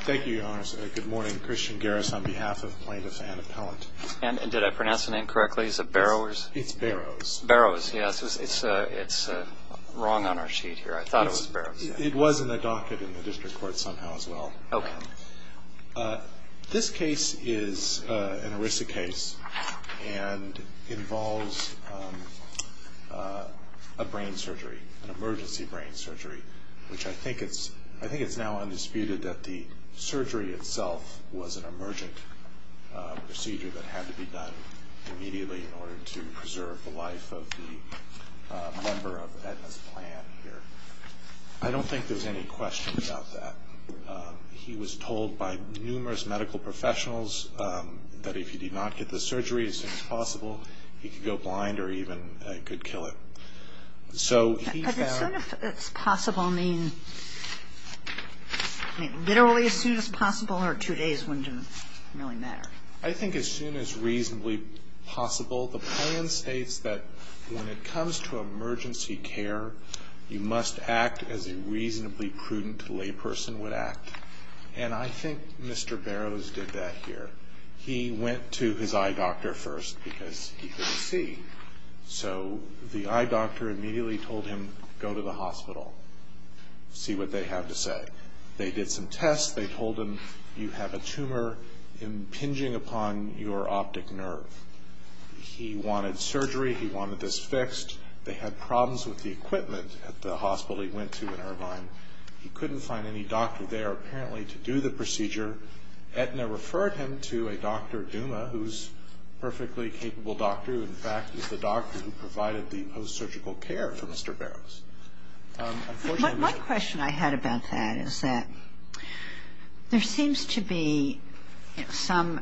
Thank you, Your Honor. Good morning. Christian Garris on behalf of Plaintiff's Anne Appellant. And did I pronounce the name correctly? Is it Barrowers? It's Barrowers. Barrowers, yes. It's wrong on our sheet here. I thought it was Barrowers. It was in the docket in the district court somehow as well. Okay. This case is an ERISA case and involves a brain surgery, an emergency brain surgery, which I think it's now undisputed that the surgery itself was an emergent procedure that had to be done immediately in order to preserve the life of the member of Aetna's plan here. I don't think there's any question about that. He was told by numerous medical professionals that if he did not get the surgery as soon as possible, he could go blind or even could kill it. So he found As soon as possible mean literally as soon as possible or two days wouldn't really matter? I think as soon as reasonably possible. The plan states that when it comes to emergency care, you must act as a reasonably prudent layperson would act. And I think Mr. Barrowers did that here. He went to his eye doctor first because he couldn't see. So the eye doctor immediately told him go to the hospital, see what they have to say. They did some tests. They told him you have a tumor impinging upon your optic nerve. He wanted surgery. He wanted this fixed. They had problems with the equipment at the hospital he went to in Irvine. He couldn't find any doctor there apparently to do the procedure. Etna referred him to a Dr. Duma who's a perfectly capable doctor, who in fact is the doctor who provided the post-surgical care for Mr. Barrowers. Unfortunately One question I had about that is that there seems to be some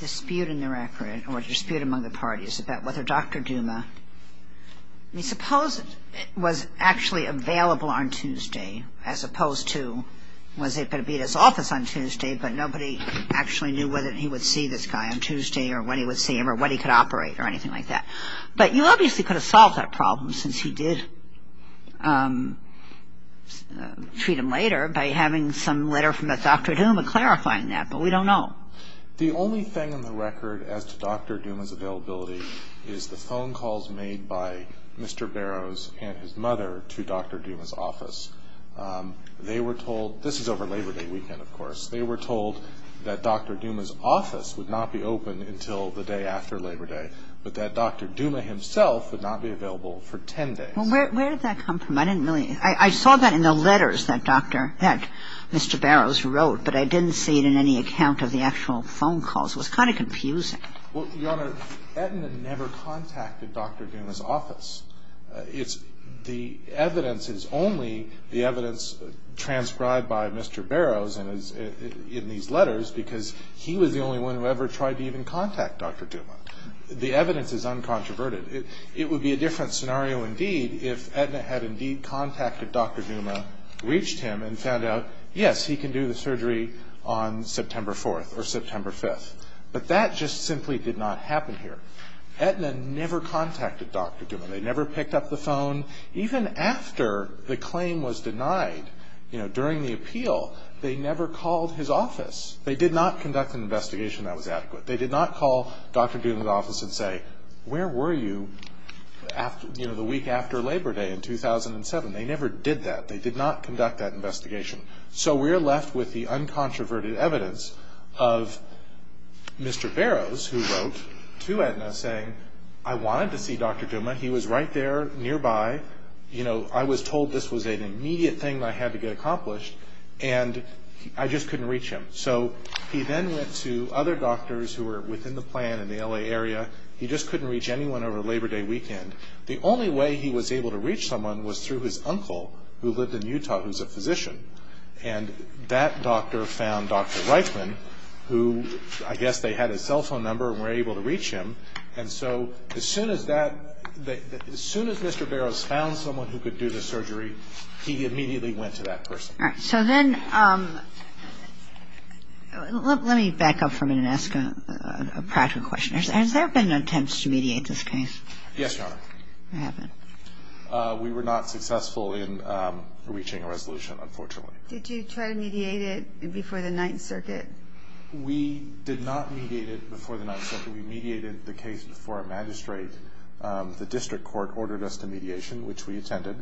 dispute in the record or dispute among the parties about whether Dr. Duma, I mean suppose it was actually available on Tuesday as opposed to was it going to be at his office on Tuesday, but nobody actually knew whether he would see this guy on Tuesday or when he would see him or what he could operate or anything like that. But you obviously could have solved that problem since he did treat him later by having some letter from Dr. Duma clarifying that, but we don't know. The only thing in the record as to Dr. Duma's availability is the phone calls made by Mr. Barrowers and his mother to Dr. Duma's office. They were told, this is over Labor Day weekend of course, they were told that Dr. Duma's office would not be open until the day after Labor Day, but that Dr. Duma himself would not be available for 10 days. Well, where did that come from? I didn't really, I saw that in the letters that Dr., that Mr. Barrowers wrote, but I didn't see it in any account of the actual phone calls. It was kind of confusing. Well, Your Honor, Etna never contacted Dr. Duma's office. The evidence is only the evidence transcribed by Mr. Barrowers in these letters because he was the only one who ever tried to even contact Dr. Duma. The evidence is uncontroverted. It would be a different scenario indeed if Etna had indeed contacted Dr. Duma, reached him, and found out, yes, he can do the surgery on September 4th or September 5th. But that just simply did not happen here. Etna never contacted Dr. Duma. They never picked up the phone. Even after the claim was denied during the appeal, they never called his office. They did not conduct an investigation that was adequate. They did not call Dr. Duma's office and say, where were you the week after Labor Day in 2007? They never did that. They did not conduct that investigation. So we're left with the uncontroverted evidence of Mr. Barrowers who wrote to Etna saying, I wanted to see Dr. Duma. He was right there nearby. You know, I was told this was an immediate thing that I had to get accomplished, and I just couldn't reach him. So he then went to other doctors who were within the plan in the L.A. area. He just couldn't reach anyone over Labor Day weekend. And the only way he was able to reach someone was through his uncle who lived in Utah who's a physician. And that doctor found Dr. Reitman, who I guess they had his cell phone number and were able to reach him. And so as soon as that – as soon as Mr. Barrowers found someone who could do the surgery, he immediately went to that person. All right. So then let me back up for a minute and ask a practical question. Has there been attempts to mediate this case? Yes, Your Honor. What happened? We were not successful in reaching a resolution, unfortunately. Did you try to mediate it before the Ninth Circuit? We did not mediate it before the Ninth Circuit. We mediated the case before a magistrate. The district court ordered us to mediation, which we attended,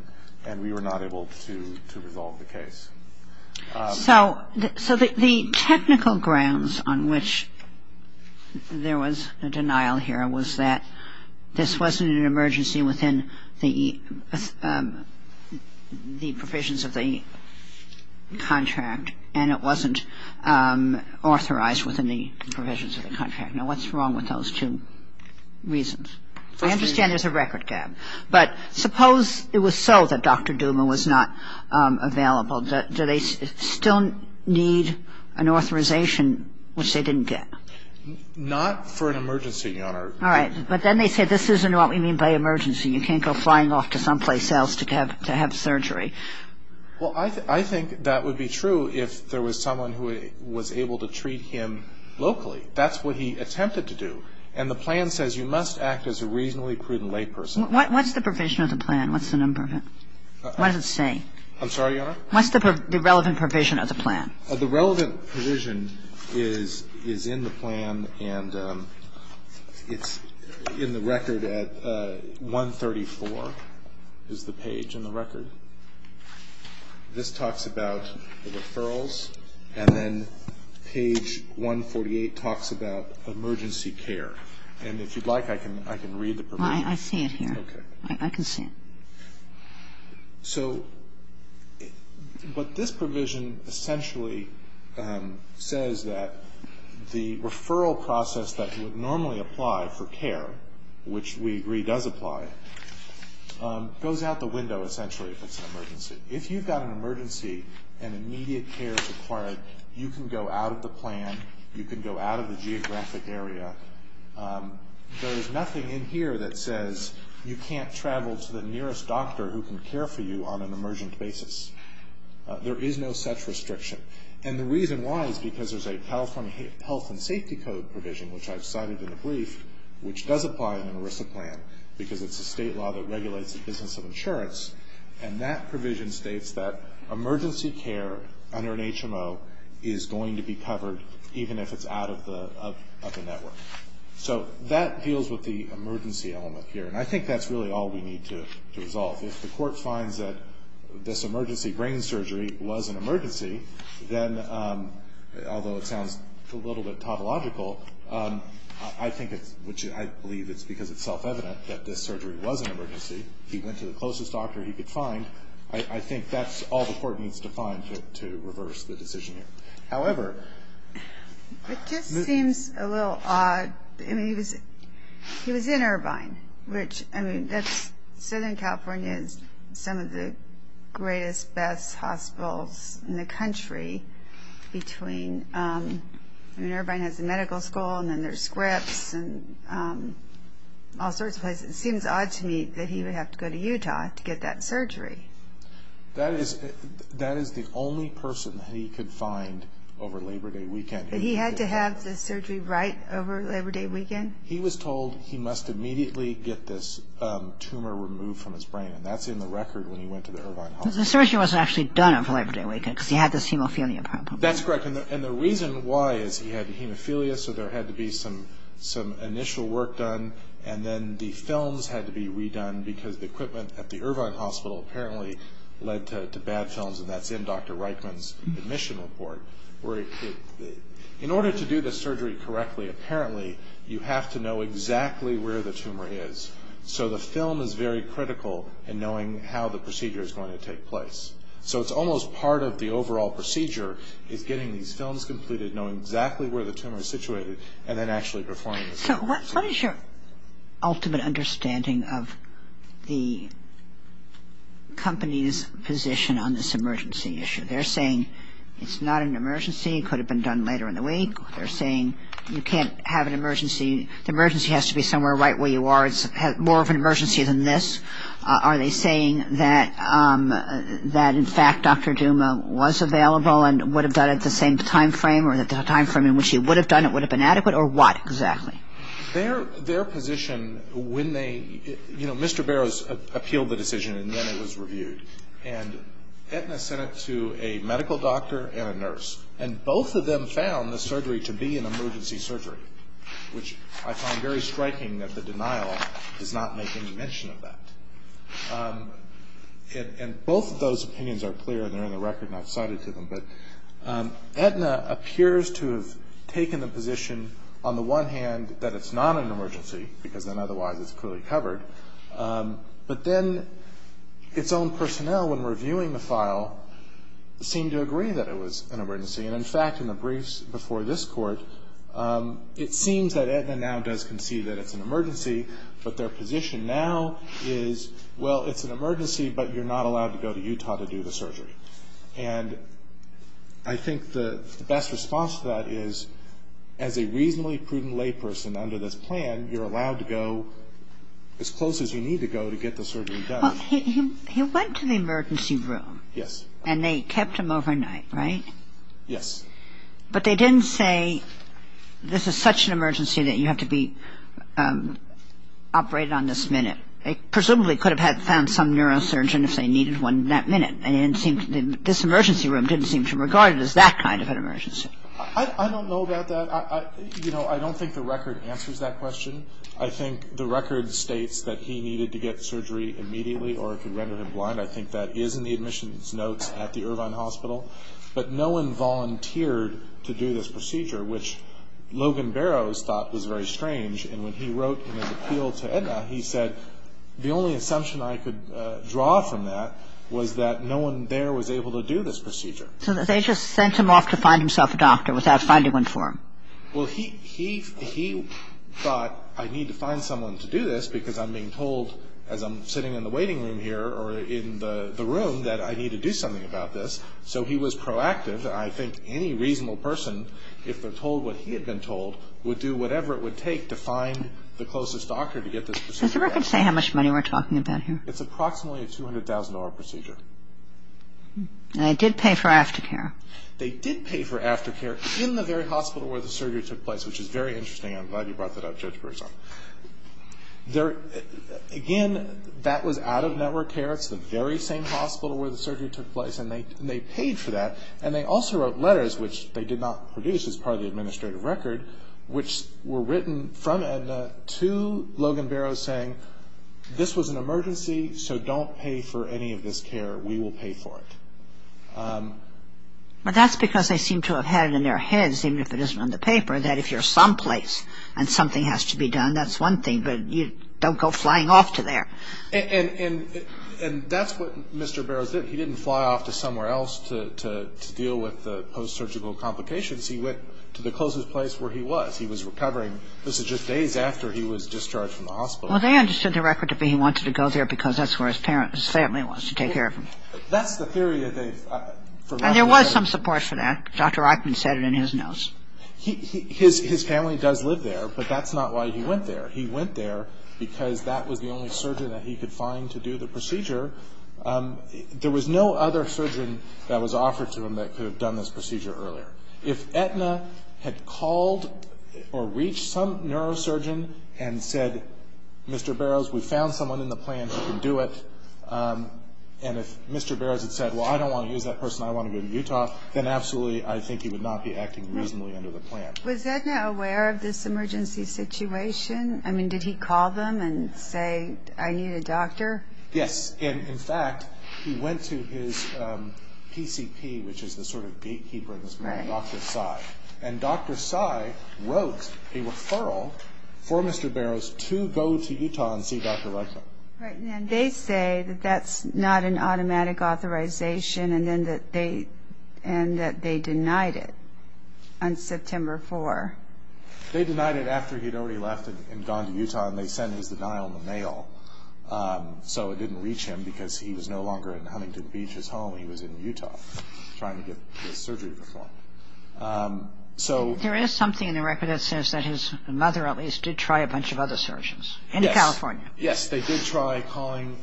and we were not able to resolve the case. So the technical grounds on which there was a denial here was that this wasn't an emergency within the provisions of the contract, and it wasn't authorized within the provisions of the contract. Now, what's wrong with those two reasons? I understand there's a record gap. But suppose it was so that Dr. Duma was not available. Do they still need an authorization, which they didn't get? Not for an emergency, Your Honor. All right. But then they said this isn't what we mean by emergency. You can't go flying off to someplace else to have surgery. Well, I think that would be true if there was someone who was able to treat him locally. That's what he attempted to do. And the plan says you must act as a reasonably prudent layperson. What's the provision of the plan? What's the number of it? What does it say? I'm sorry, Your Honor? What's the relevant provision of the plan? The relevant provision is in the plan, and it's in the record at 134 is the page in the record. This talks about the referrals, and then page 148 talks about emergency care. And if you'd like, I can read the provision. I see it here. Okay. I can see it. So what this provision essentially says that the referral process that would normally apply for care, which we agree does apply, goes out the window essentially if it's an emergency. If you've got an emergency and immediate care is required, you can go out of the plan, you can go out of the geographic area. There is nothing in here that says you can't travel to the nearest doctor who can care for you on an emergent basis. There is no such restriction. And the reason why is because there's a California Health and Safety Code provision, which I've cited in the brief, which does apply in an ERISA plan because it's a state law that regulates the business of insurance. And that provision states that emergency care under an HMO is going to be covered even if it's out of the network. So that deals with the emergency element here. And I think that's really all we need to resolve. If the court finds that this emergency brain surgery was an emergency, then, although it I think it's, which I believe it's because it's self-evident that this surgery was an emergency. He went to the closest doctor he could find. I think that's all the court needs to find to reverse the decision here. However... It just seems a little odd. I mean, he was in Irvine, which, I mean, that's, Southern California is some of the greatest, best hospitals in the country. Between, I mean, Irvine has the medical school and then there's Scripps and all sorts of places. It seems odd to me that he would have to go to Utah to get that surgery. That is the only person that he could find over Labor Day weekend. But he had to have the surgery right over Labor Day weekend? He was told he must immediately get this tumor removed from his brain, and that's in the record when he went to the Irvine hospital. But the surgery wasn't actually done over Labor Day weekend because he had this hemophilia problem. That's correct. And the reason why is he had hemophilia, so there had to be some initial work done, and then the films had to be redone because the equipment at the Irvine hospital apparently led to bad films, and that's in Dr. Reichman's admission report. In order to do the surgery correctly, apparently, you have to know exactly where the tumor is. So the film is very critical in knowing how the procedure is going to take place. So it's almost part of the overall procedure is getting these films completed, knowing exactly where the tumor is situated, and then actually performing the surgery. So what is your ultimate understanding of the company's position on this emergency issue? They're saying it's not an emergency. It could have been done later in the week. They're saying you can't have an emergency. The emergency has to be somewhere right where you are. It's more of an emergency than this. Are they saying that, in fact, Dr. Duma was available and would have done it at the same time frame or that the time frame in which he would have done it would have been adequate, or what exactly? Their position when they ñ you know, Mr. Barrows appealed the decision, and then it was reviewed. And Aetna sent it to a medical doctor and a nurse, and both of them found the surgery to be an emergency surgery, which I find very striking that the denial does not make any mention of that. And both of those opinions are clear, and they're in the record, and I've cited to them. But Aetna appears to have taken the position, on the one hand, that it's not an emergency, because then otherwise it's clearly covered. But then its own personnel, when reviewing the file, seemed to agree that it was an emergency. And, in fact, in the briefs before this Court, it seems that Aetna now does concede that it's an emergency, but their position now is, well, it's an emergency, but you're not allowed to go to Utah to do the surgery. And I think the best response to that is, as a reasonably prudent layperson under this plan, you're allowed to go as close as you need to go to get the surgery done. Well, he went to the emergency room. Yes. And they kept him overnight, right? Yes. But they didn't say, this is such an emergency that you have to be operated on this minute. They presumably could have found some neurosurgeon if they needed one that minute, and this emergency room didn't seem to regard it as that kind of an emergency. I don't know about that. You know, I don't think the record answers that question. I think the record states that he needed to get surgery immediately or it could render him blind. I think that is in the admissions notes at the Irvine Hospital. But no one volunteered to do this procedure, which Logan Barrows thought was very strange. And when he wrote in his appeal to Aetna, he said, the only assumption I could draw from that was that no one there was able to do this procedure. So they just sent him off to find himself a doctor without finding one for him. Well, he thought, I need to find someone to do this because I'm being told, as I'm sitting in the waiting room here or in the room, that I need to do something about this. So he was proactive. I think any reasonable person, if they're told what he had been told, would do whatever it would take to find the closest doctor to get this procedure done. Does the record say how much money we're talking about here? It's approximately a $200,000 procedure. And they did pay for aftercare. They did pay for aftercare in the very hospital where the surgery took place, which is very interesting. I'm glad you brought that up, Judge Broussard. Again, that was out-of-network care. It's the very same hospital where the surgery took place, and they paid for that. And they also wrote letters, which they did not produce as part of the administrative record, which were written from Aetna to Logan Barrows saying, this was an emergency, so don't pay for any of this care. We will pay for it. But that's because they seem to have had it in their heads, even if it isn't on the paper, that if you're someplace and something has to be done, that's one thing, but you don't go flying off to there. And that's what Mr. Barrows did. He didn't fly off to somewhere else to deal with the post-surgical complications. He went to the closest place where he was. He was recovering. This is just days after he was discharged from the hospital. Well, they understood the record to be he wanted to go there because that's where his parents' family was to take care of him. That's the theory that they've forgotten. And there was some support for that. Dr. Reichman said it in his notes. His family does live there, but that's not why he went there. He went there because that was the only surgeon that he could find to do the procedure. There was no other surgeon that was offered to him that could have done this procedure earlier. If Aetna had called or reached some neurosurgeon and said, Mr. Barrows, we found someone in the plan who can do it, and if Mr. Barrows had said, well, I don't want to use that person, I want to go to Utah, then absolutely I think he would not be acting reasonably under the plan. Was Aetna aware of this emergency situation? I mean, did he call them and say, I need a doctor? Yes. In fact, he went to his PCP, which is the sort of gatekeeper in this room, Dr. Tsai, and Dr. Tsai wrote a referral for Mr. Barrows to go to Utah and see Dr. Reichman. And they say that that's not an automatic authorization and that they denied it on September 4. They denied it after he had already left and gone to Utah, and they sent his denial in the mail. So it didn't reach him because he was no longer in Huntington Beach, his home. He was in Utah trying to get his surgery performed. There is something in the record that says that his mother at least did try a bunch of other surgeons. Yes. In California. Yes, they did try calling,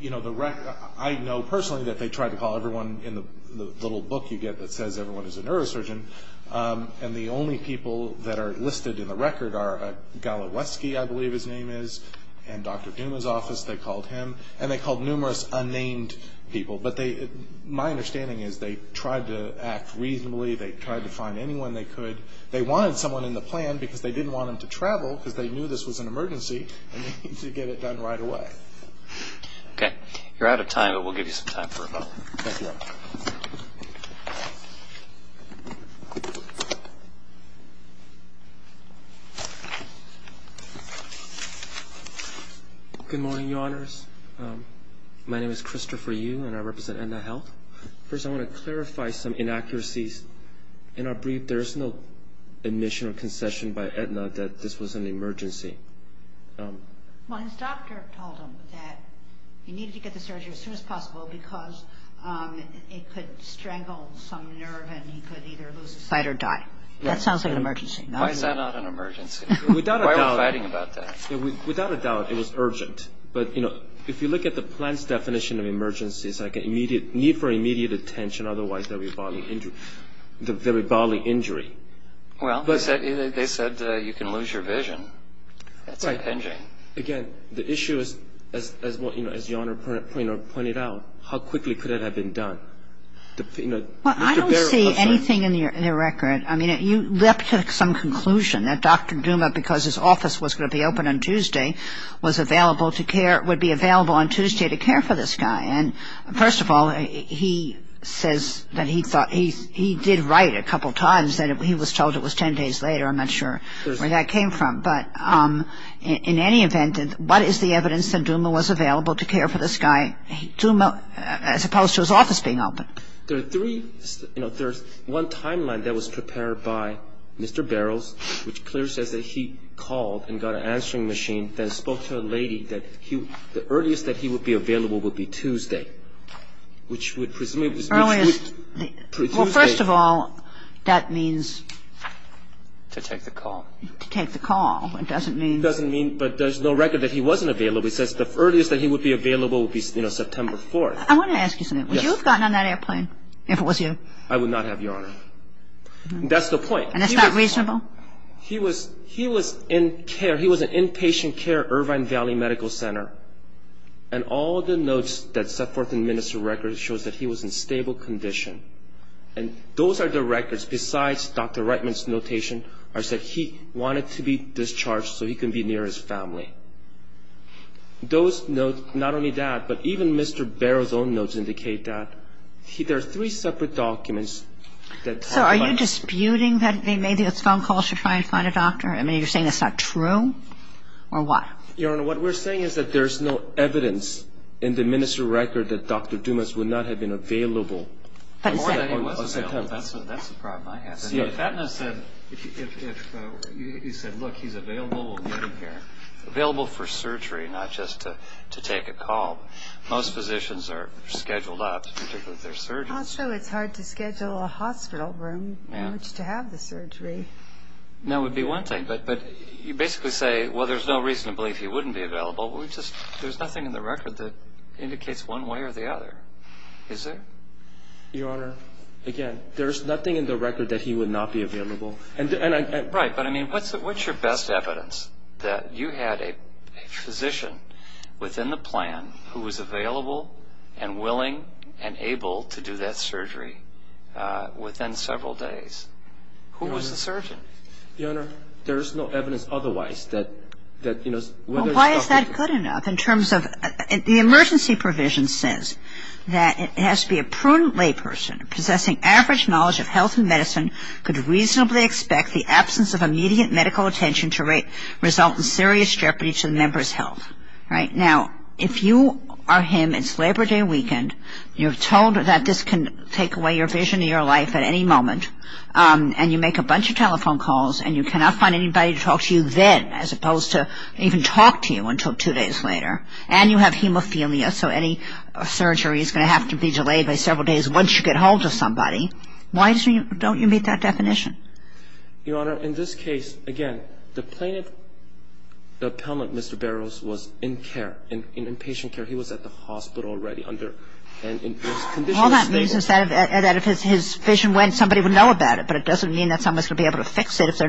you know, the record. I know personally that they tried to call everyone in the little book you get that says everyone is a neurosurgeon, and the only people that are listed in the record are Galaweski, I believe his name is, and Dr. Duma's office, they called him, and they called numerous unnamed people. But my understanding is they tried to act reasonably. They tried to find anyone they could. They wanted someone in the plan because they didn't want him to travel because they knew this was an emergency and they needed to get it done right away. Okay. You're out of time, but we'll give you some time for a vote. Thank you. Good morning, Your Honors. My name is Christopher Yu, and I represent Aetna Health. First, I want to clarify some inaccuracies. In our brief, there is no admission or concession by Aetna that this was an emergency. Well, his doctor told him that he needed to get the surgery as soon as possible because it could strangle some nerve and he could either lose a limb or he could die. That sounds like an emergency. Why is that not an emergency? Why are we fighting about that? Without a doubt, it was urgent. But, you know, if you look at the plan's definition of emergency, it's like a need for immediate attention, otherwise there will be bodily injury. Well, they said you can lose your vision. That's impinging. Again, the issue is, as Your Honor pointed out, how quickly could it have been done? Well, I don't see anything in the record. I mean, you leapt to some conclusion that Dr. Duma, because his office was going to be open on Tuesday, was available to care, would be available on Tuesday to care for this guy. And first of all, he says that he thought he did right a couple times that he was told it was 10 days later. I'm not sure where that came from. But in any event, what is the evidence that Duma was available to care for this guy, as opposed to his office being open? There are three, you know, there's one timeline that was prepared by Mr. Barrows, which clearly says that he called and got an answering machine, then spoke to a lady that the earliest that he would be available would be Tuesday, which would presume it was Tuesday. Well, first of all, that means... To take the call. To take the call. It doesn't mean... It doesn't mean, but there's no record that he wasn't available. It says the earliest that he would be available would be, you know, September 4th. I want to ask you something. Would you have gotten on that airplane if it was you? I would not have, Your Honor. That's the point. And that's not reasonable? He was in care. He was in inpatient care, Irvine Valley Medical Center. And all the notes that set forth in the minister's record shows that he was in stable condition. And those are the records, besides Dr. Reitman's notation, are that he wanted to be discharged so he could be near his family. Those notes, not only that, but even Mr. Barrow's own notes indicate that. There are three separate documents that talk about... So are you disputing that he made those phone calls to try and find a doctor? I mean, you're saying that's not true? Or what? Your Honor, what we're saying is that there's no evidence in the minister's record that Dr. Dumas would not have been available. More than he was available. That's the problem I have. If you said, look, he's available, we'll get him here. Available for surgery, not just to take a call. Most physicians are scheduled up, particularly if they're surgeons. Also, it's hard to schedule a hospital room in which to have the surgery. That would be one thing. But you basically say, well, there's no reason to believe he wouldn't be available. There's nothing in the record that indicates one way or the other, is there? Your Honor, again, there's nothing in the record that he would not be available. Right. But, I mean, what's your best evidence that you had a physician within the plan who was available and willing and able to do that surgery within several days? Who was the surgeon? Your Honor, there is no evidence otherwise that, you know, whether it's Dr. Dumas... ...a prudent layperson possessing average knowledge of health and medicine could reasonably expect the absence of immediate medical attention to result in serious jeopardy to the member's health. Right. Now, if you are him, it's Labor Day weekend. You're told that this can take away your vision of your life at any moment, and you make a bunch of telephone calls and you cannot find anybody to talk to you then, as opposed to even talk to you until two days later. And you have hemophilia, so any surgery is going to have to be delayed by several days once you get hold of somebody. Why don't you meet that definition? Your Honor, in this case, again, the plaintiff, the appellant, Mr. Barrows, was in care, in inpatient care. He was at the hospital already under... All that means is that if his vision went, somebody would know about it, but it doesn't mean that someone's going to be able to fix it if they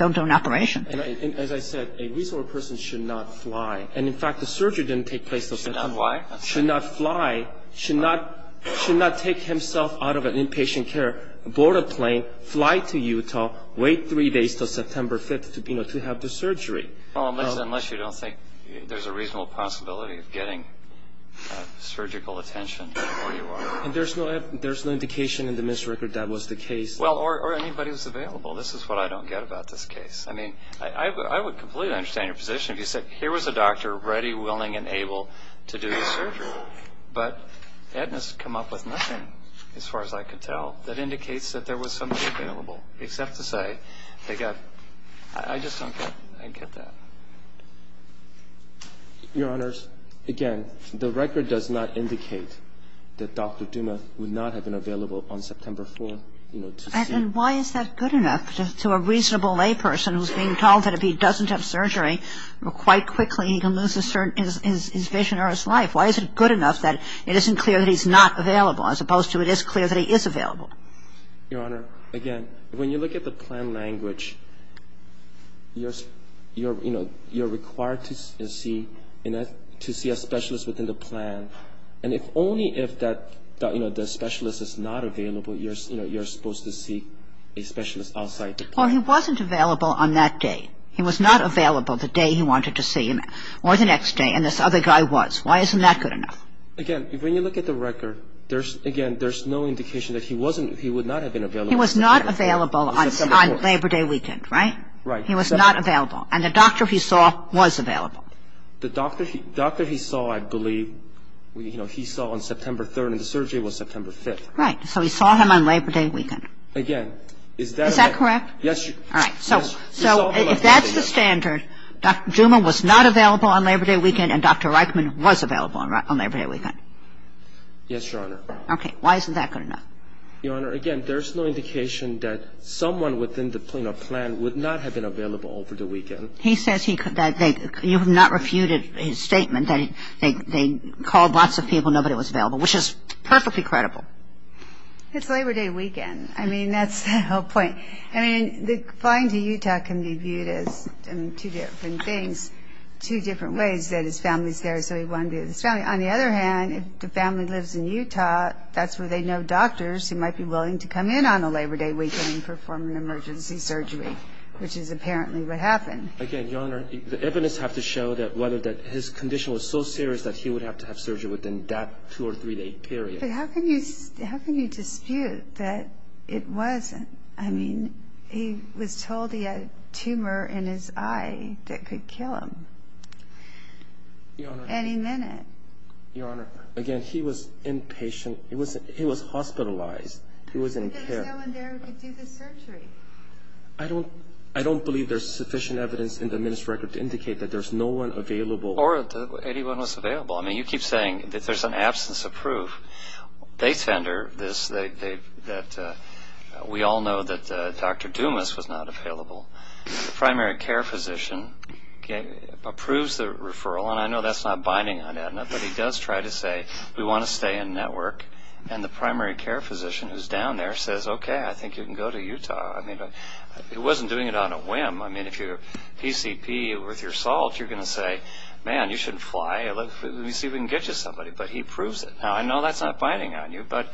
don't do an operation. As I said, a reasonable person should not fly. And, in fact, the surgery didn't take place until September. Should not fly? Should not fly. Should not take himself out of inpatient care, board a plane, fly to Utah, wait three days until September 5th to have the surgery. Unless you don't think there's a reasonable possibility of getting surgical attention, or you are. And there's no indication in the ministry record that was the case. Well, or anybody was available. This is what I don't get about this case. I mean, I would completely understand your position if you said, here was a doctor ready, willing, and able to do the surgery, but Edna's come up with nothing, as far as I could tell, that indicates that there was somebody available, except to say they got... I just don't get that. Your Honors, again, the record does not indicate that Dr. Duma would not have been available on September 4th. And why is that good enough to a reasonable layperson who's being told that if he doesn't have surgery, quite quickly he can lose his vision or his life? Why is it good enough that it isn't clear that he's not available, as opposed to it is clear that he is available? Your Honor, again, when you look at the plan language, you're required to see a specialist within the plan. And if only if the specialist is not available, you're supposed to see a specialist outside the plan. Well, he wasn't available on that day. He was not available the day he wanted to see him, or the next day, and this other guy was. Why isn't that good enough? Again, when you look at the record, again, there's no indication that he would not have been available. He was not available on Labor Day weekend, right? Right. He was not available. And the doctor he saw was available. The doctor he saw, I believe, you know, he saw on September 3rd, and the surgery was September 5th. Right. So he saw him on Labor Day weekend. Again, is that the... Is that correct? Yes, Your Honor. All right. So if that's the standard, Dr. Juman was not available on Labor Day weekend, and Dr. Reichman was available on Labor Day weekend. Yes, Your Honor. Okay. Why isn't that good enough? Your Honor, again, there's no indication that someone within the plan would not have been available over the weekend. He says that you have not refuted his statement that they called lots of people, nobody was available, which is perfectly credible. It's Labor Day weekend. I mean, that's the whole point. I mean, applying to Utah can be viewed as two different things, two different ways that his family's there, so he wanted to be with his family. On the other hand, if the family lives in Utah, that's where they know doctors who might be willing to come in on a Labor Day weekend and perform an emergency surgery, which is apparently what happened. Again, Your Honor, the evidence has to show that his condition was so serious that he would have to have surgery within that two- or three-day period. But how can you dispute that it wasn't? I mean, he was told he had a tumor in his eye that could kill him any minute. Your Honor, again, he was inpatient. He was hospitalized. But there was no one there who could do the surgery. I don't believe there's sufficient evidence in the minister's record to indicate that there's no one available. Or that anyone was available. I mean, you keep saying that there's an absence of proof. They tender this, that we all know that Dr. Dumas was not available. The primary care physician approves the referral, and I know that's not binding on Aetna, but he does try to say, we want to stay in network. And the primary care physician who's down there says, okay, I think you can go to Utah. I mean, it wasn't doing it on a whim. I mean, if you're PCP with your salt, you're going to say, man, you shouldn't fly. Let me see if we can get you somebody. But he proves it. Now, I know that's not binding on you, but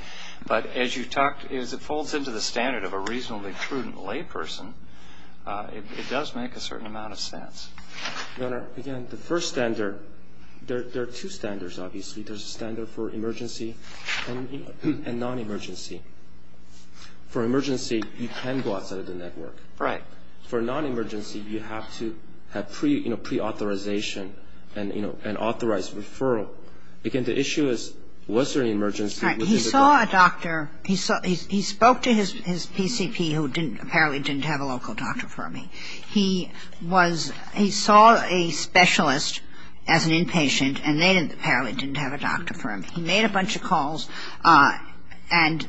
as you talked, as it folds into the standard of a reasonably prudent layperson, it does make a certain amount of sense. The first standard, there are two standards, obviously. There's a standard for emergency and non-emergency. For emergency, you can go outside of the network. Right. For non-emergency, you have to have, you know, preauthorization and, you know, an authorized referral. Again, the issue is, was there an emergency? Right. He saw a doctor. He spoke to his PCP, who apparently didn't have a local doctor for him. He saw a specialist as an inpatient, and they apparently didn't have a doctor for him. He made a bunch of calls, and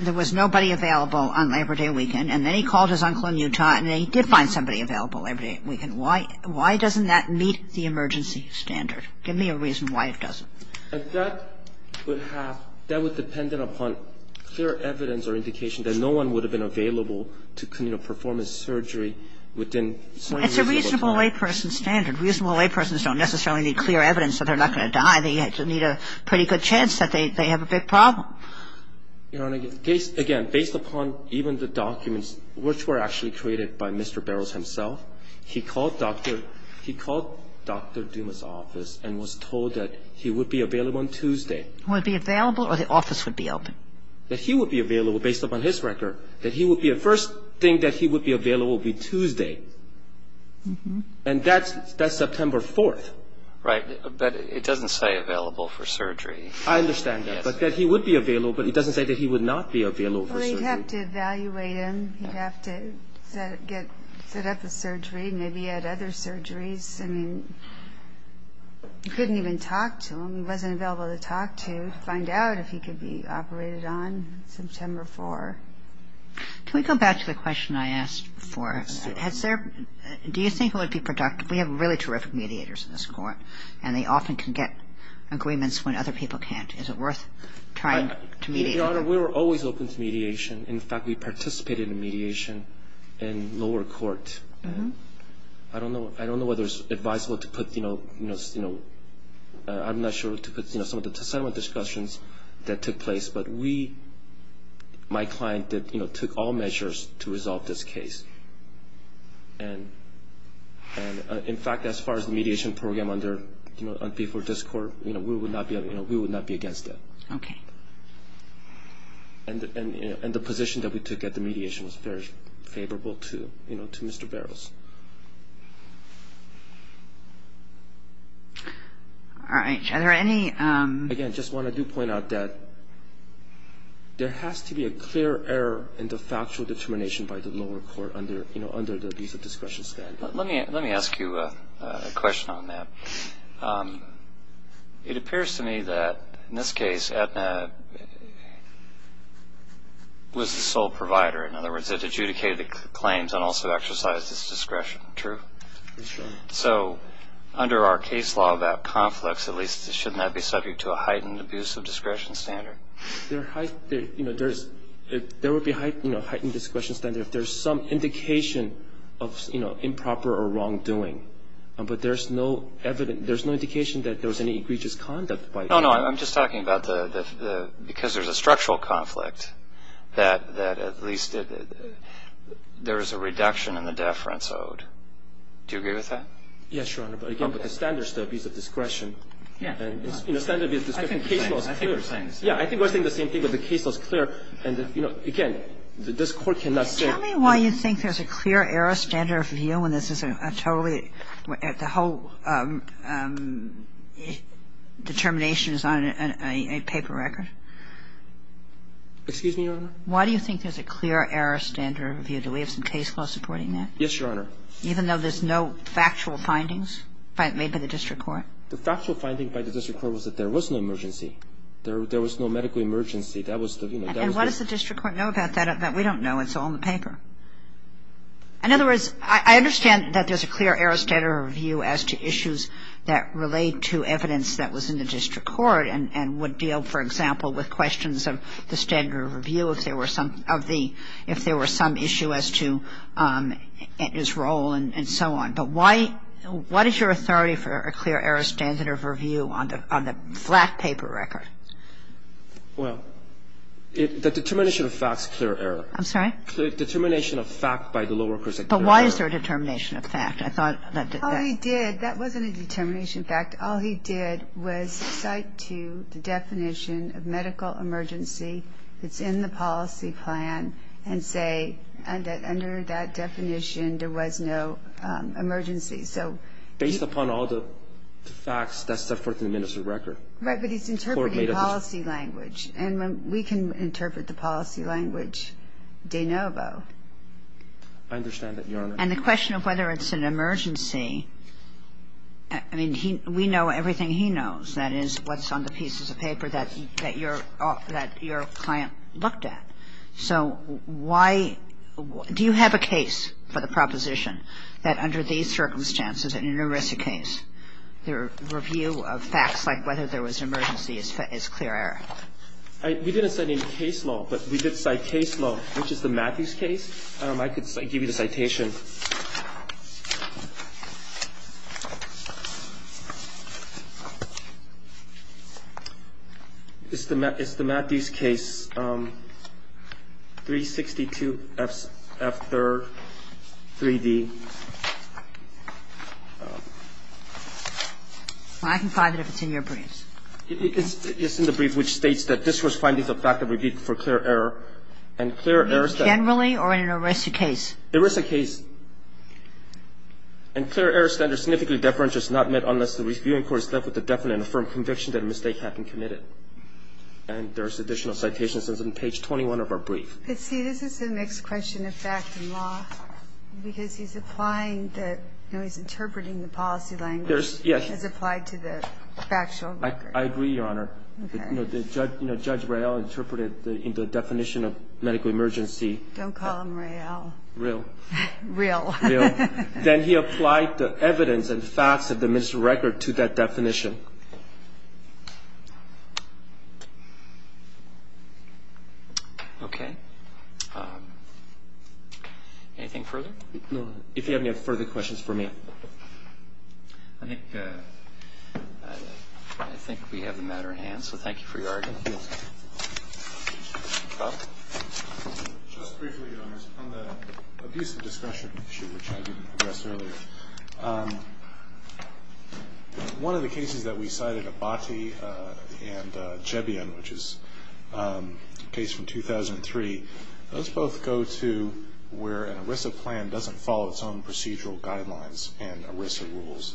there was nobody available on Labor Day weekend. And then he called his uncle in Utah, and then he did find somebody available Labor Day weekend. Why doesn't that meet the emergency standard? Give me a reason why it doesn't. And that would have ñ that would depend upon clear evidence or indication that no one would have been available to, you know, perform his surgery within 24 hours. It's a reasonable layperson standard. Reasonable laypersons don't necessarily need clear evidence that they're not going to die. They need a pretty good chance that they have a big problem. Your Honor, again, based upon even the documents which were actually created by Mr. Barrows himself, he called Dr. Duma's office and was told that he would be available on Tuesday. Would be available, or the office would be open? That he would be available, based upon his record, that he would be a first thing that he would be available would be Tuesday. And that's September 4th. Right. But it doesn't say available for surgery. I understand that. But that he would be available, but it doesn't say that he would not be available for surgery. He'd have to evaluate him. He'd have to get set up for surgery. Maybe he had other surgeries. I mean, you couldn't even talk to him. He wasn't available to talk to, find out if he could be operated on September 4th. Can we go back to the question I asked before? Yes, Your Honor. Do you think it would be productive? We have really terrific mediators in this Court, and they often can get agreements when other people can't. Is it worth trying to mediate? Your Honor, we were always open to mediation. In fact, we participated in mediation in lower court. I don't know whether it's advisable to put, you know, I'm not sure to put some of the settlement discussions that took place, but we, my client, took all measures to resolve this case. And, in fact, as far as the mediation program under unfaithful discord, we would not be against that. Okay. And the position that we took at the mediation was very favorable to, you know, to Mr. Barrows. All right. Are there any? Again, I just want to do point out that there has to be a clear error in the factual determination by the lower court under, you know, under the abuse of discretion standard. Let me ask you a question on that. It appears to me that, in this case, Aetna was the sole provider. In other words, it adjudicated the claims and also exercised its discretion. True? It's true. So under our case law about conflicts, at least, shouldn't that be subject to a heightened abuse of discretion standard? There would be a heightened discretion standard if there's some indication of, you know, improper or wrongdoing. But there's no evidence — there's no indication that there was any egregious conduct by — No, no. I'm just talking about the — because there's a structural conflict, that at least there is a reduction in the deference owed. Do you agree with that? Yes, Your Honor. But, again, with the standard step, use of discretion. Yeah. And, you know, standard abuse of discretion case law is clear. I think we're saying the same thing. Yeah, I think we're saying the same thing, but the case law is clear. And, you know, again, this Court cannot say — Excuse me, Your Honor. Why do you think there's a clear error standard of review? Do we have some case law supporting that? Yes, Your Honor. Even though there's no factual findings made by the district court? The factual finding by the district court was that there was no emergency. There was no medical emergency. That was the, you know, that was the — And what does the district court know about that? In other words, I understand that there's a clear error standard of review. I understand that there's a clear error standard of review as to issues that relate to evidence that was in the district court and would deal, for example, with questions of the standard of review if there were some — of the — if there were some issue as to its role and so on. But why — what is your authority for a clear error standard of review on the flat paper record? Well, the determination of fact is a clear error. I'm sorry? Determination of fact by the law workers. But why is there a determination of fact? I thought that — All he did — that wasn't a determination of fact. All he did was cite to the definition of medical emergency that's in the policy plan and say that under that definition there was no emergency. So — Based upon all the facts, that's the 14 minutes of record. Right, but he's interpreting policy language. And we can interpret the policy language de novo. I understand that, Your Honor. And the question of whether it's an emergency, I mean, he — we know everything he knows, that is, what's on the pieces of paper that your — that your client looked at. So why — do you have a case for the proposition that under these circumstances there's an emergency case? The review of facts like whether there was an emergency is clear error. We didn't cite any case law, but we did cite case law, which is the Matthews case. I could give you the citation. It's the Matthews case, 362F3rd, 3D. Well, I can find it if it's in your briefs. It's in the brief, which states that this was finding the fact of review for clear error, and clear errors that — Generally or in an arrested case? Arrested case. And clear errors that are significantly deferential is not met unless the reviewing court is left with a definite and affirmed conviction that a mistake had been committed. And there's additional citations in page 21 of our brief. Let's see. This is a mixed question of fact and law, because he's applying the — you know, he's interpreting the policy language as applied to the factual record. I agree, Your Honor. Okay. You know, Judge Royale interpreted the definition of medical emergency. Don't call him Royale. Real. Real. Real. Then he applied the evidence and facts of the ministerial record to that definition. Okay. Anything further? No, Your Honor. If you have any further questions for me. I think we have the matter in hand, so thank you for your argument. Thank you. Scott? Just briefly, Your Honor. On the abuse of discretion issue, which I didn't address earlier, one of the cases that we cited, Abati and Jebian, which is a case from 2003. Those both go to where an ERISA plan doesn't follow its own procedural guidelines and ERISA rules.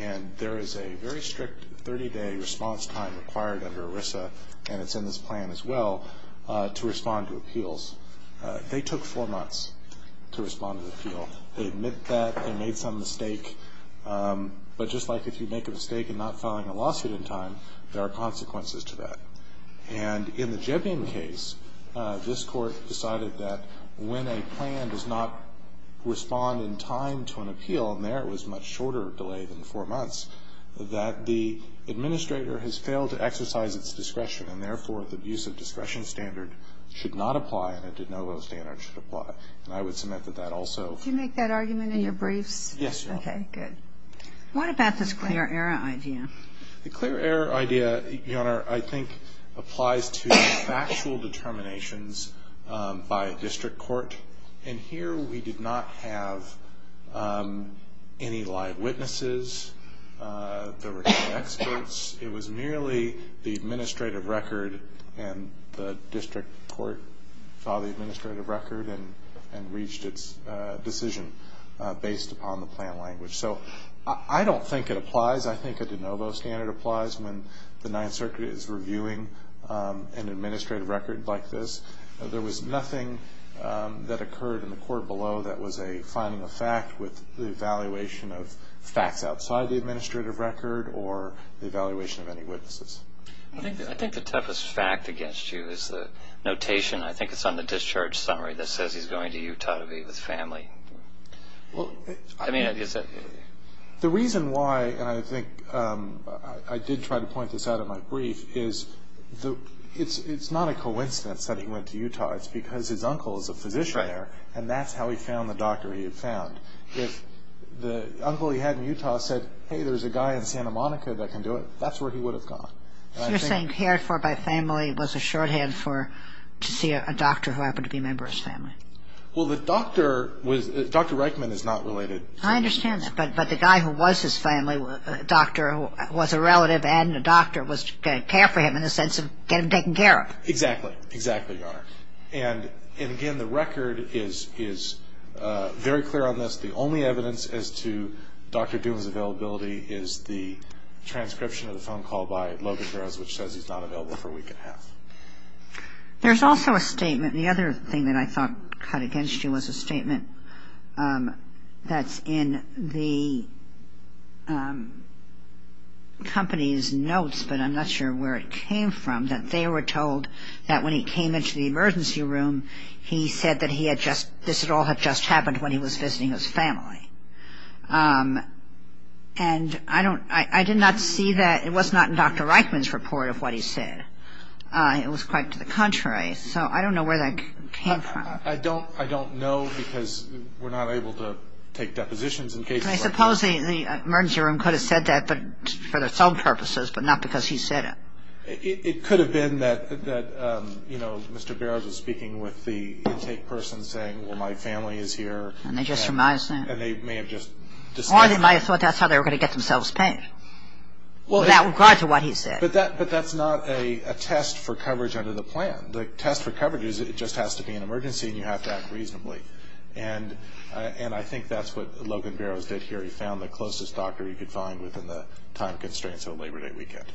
And there is a very strict 30-day response time required under ERISA, and it's in this plan as well, to respond to appeals. They took four months to respond to the appeal. They admit that they made some mistake. But just like if you make a mistake in not filing a lawsuit in time, there are consequences to that. And in the Jebian case, this court decided that when a plan does not respond in time to an appeal, and there it was a much shorter delay than four months, that the administrator has failed to exercise its discretion and, therefore, the abuse of discretion standard should not apply and a de novo standard should apply. And I would submit that that also. Did you make that argument in your briefs? Yes, Your Honor. Okay, good. What about this clear error idea? The clear error idea, Your Honor, I think applies to factual determinations by district court. And here we did not have any live witnesses. There were no experts. It was merely the administrative record and the district court saw the administrative record and reached its decision based upon the plan language. So I don't think it applies. I think a de novo standard applies when the Ninth Circuit is reviewing an administrative record like this. There was nothing that occurred in the court below that was a finding of fact with the evaluation of facts outside the administrative record or the evaluation of any witnesses. I think the toughest fact against you is the notation. I think it's on the discharge summary that says he's going to Utah to be with family. I mean, is it? The reason why, and I think I did try to point this out in my brief, is it's not a coincidence that he went to Utah. It's because his uncle is a physician there and that's how he found the doctor he had found. If the uncle he had in Utah said, hey, there's a guy in Santa Monica that can do it, that's where he would have gone. So you're saying cared for by family was a shorthand to see a doctor who happened to be a member of his family? Well, the doctor was, Dr. Reichman is not related. I understand that. But the guy who was his family doctor was a relative and a doctor was going to care for him in the sense of get him taken care of. Exactly. Exactly, Your Honor. And again, the record is very clear on this. The only evidence as to Dr. Doolin's availability is the transcription of the phone call by Logan Burroughs, which says he's not available for a week and a half. There's also a statement, the other thing that I thought cut against you was a statement that's in the company's notes, but I'm not sure where it came from, that they were told that when he came into the emergency room, he said that this would all have just happened when he was visiting his family. And I don't, I did not see that, it was not in Dr. Reichman's report of what he said. It was quite to the contrary. So I don't know where that came from. I don't know because we're not able to take depositions in cases like this. I suppose the emergency room could have said that for its own purposes, but not because he said it. It could have been that, you know, Mr. Burroughs was speaking with the intake person saying, well, my family is here. And they just remind us now. And they may have just decided. Or they might have thought that's how they were going to get themselves paid. Well, that would apply to what he said. But that's not a test for coverage under the plan. The test for coverage is it just has to be an emergency and you have to act reasonably. And I think that's what Logan Burroughs did here. He found the closest doctor he could find within the time constraints of a Labor Day weekend.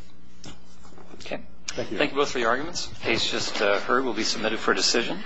Okay. Thank you. Thank you both for your arguments. The case just heard will be submitted for decision.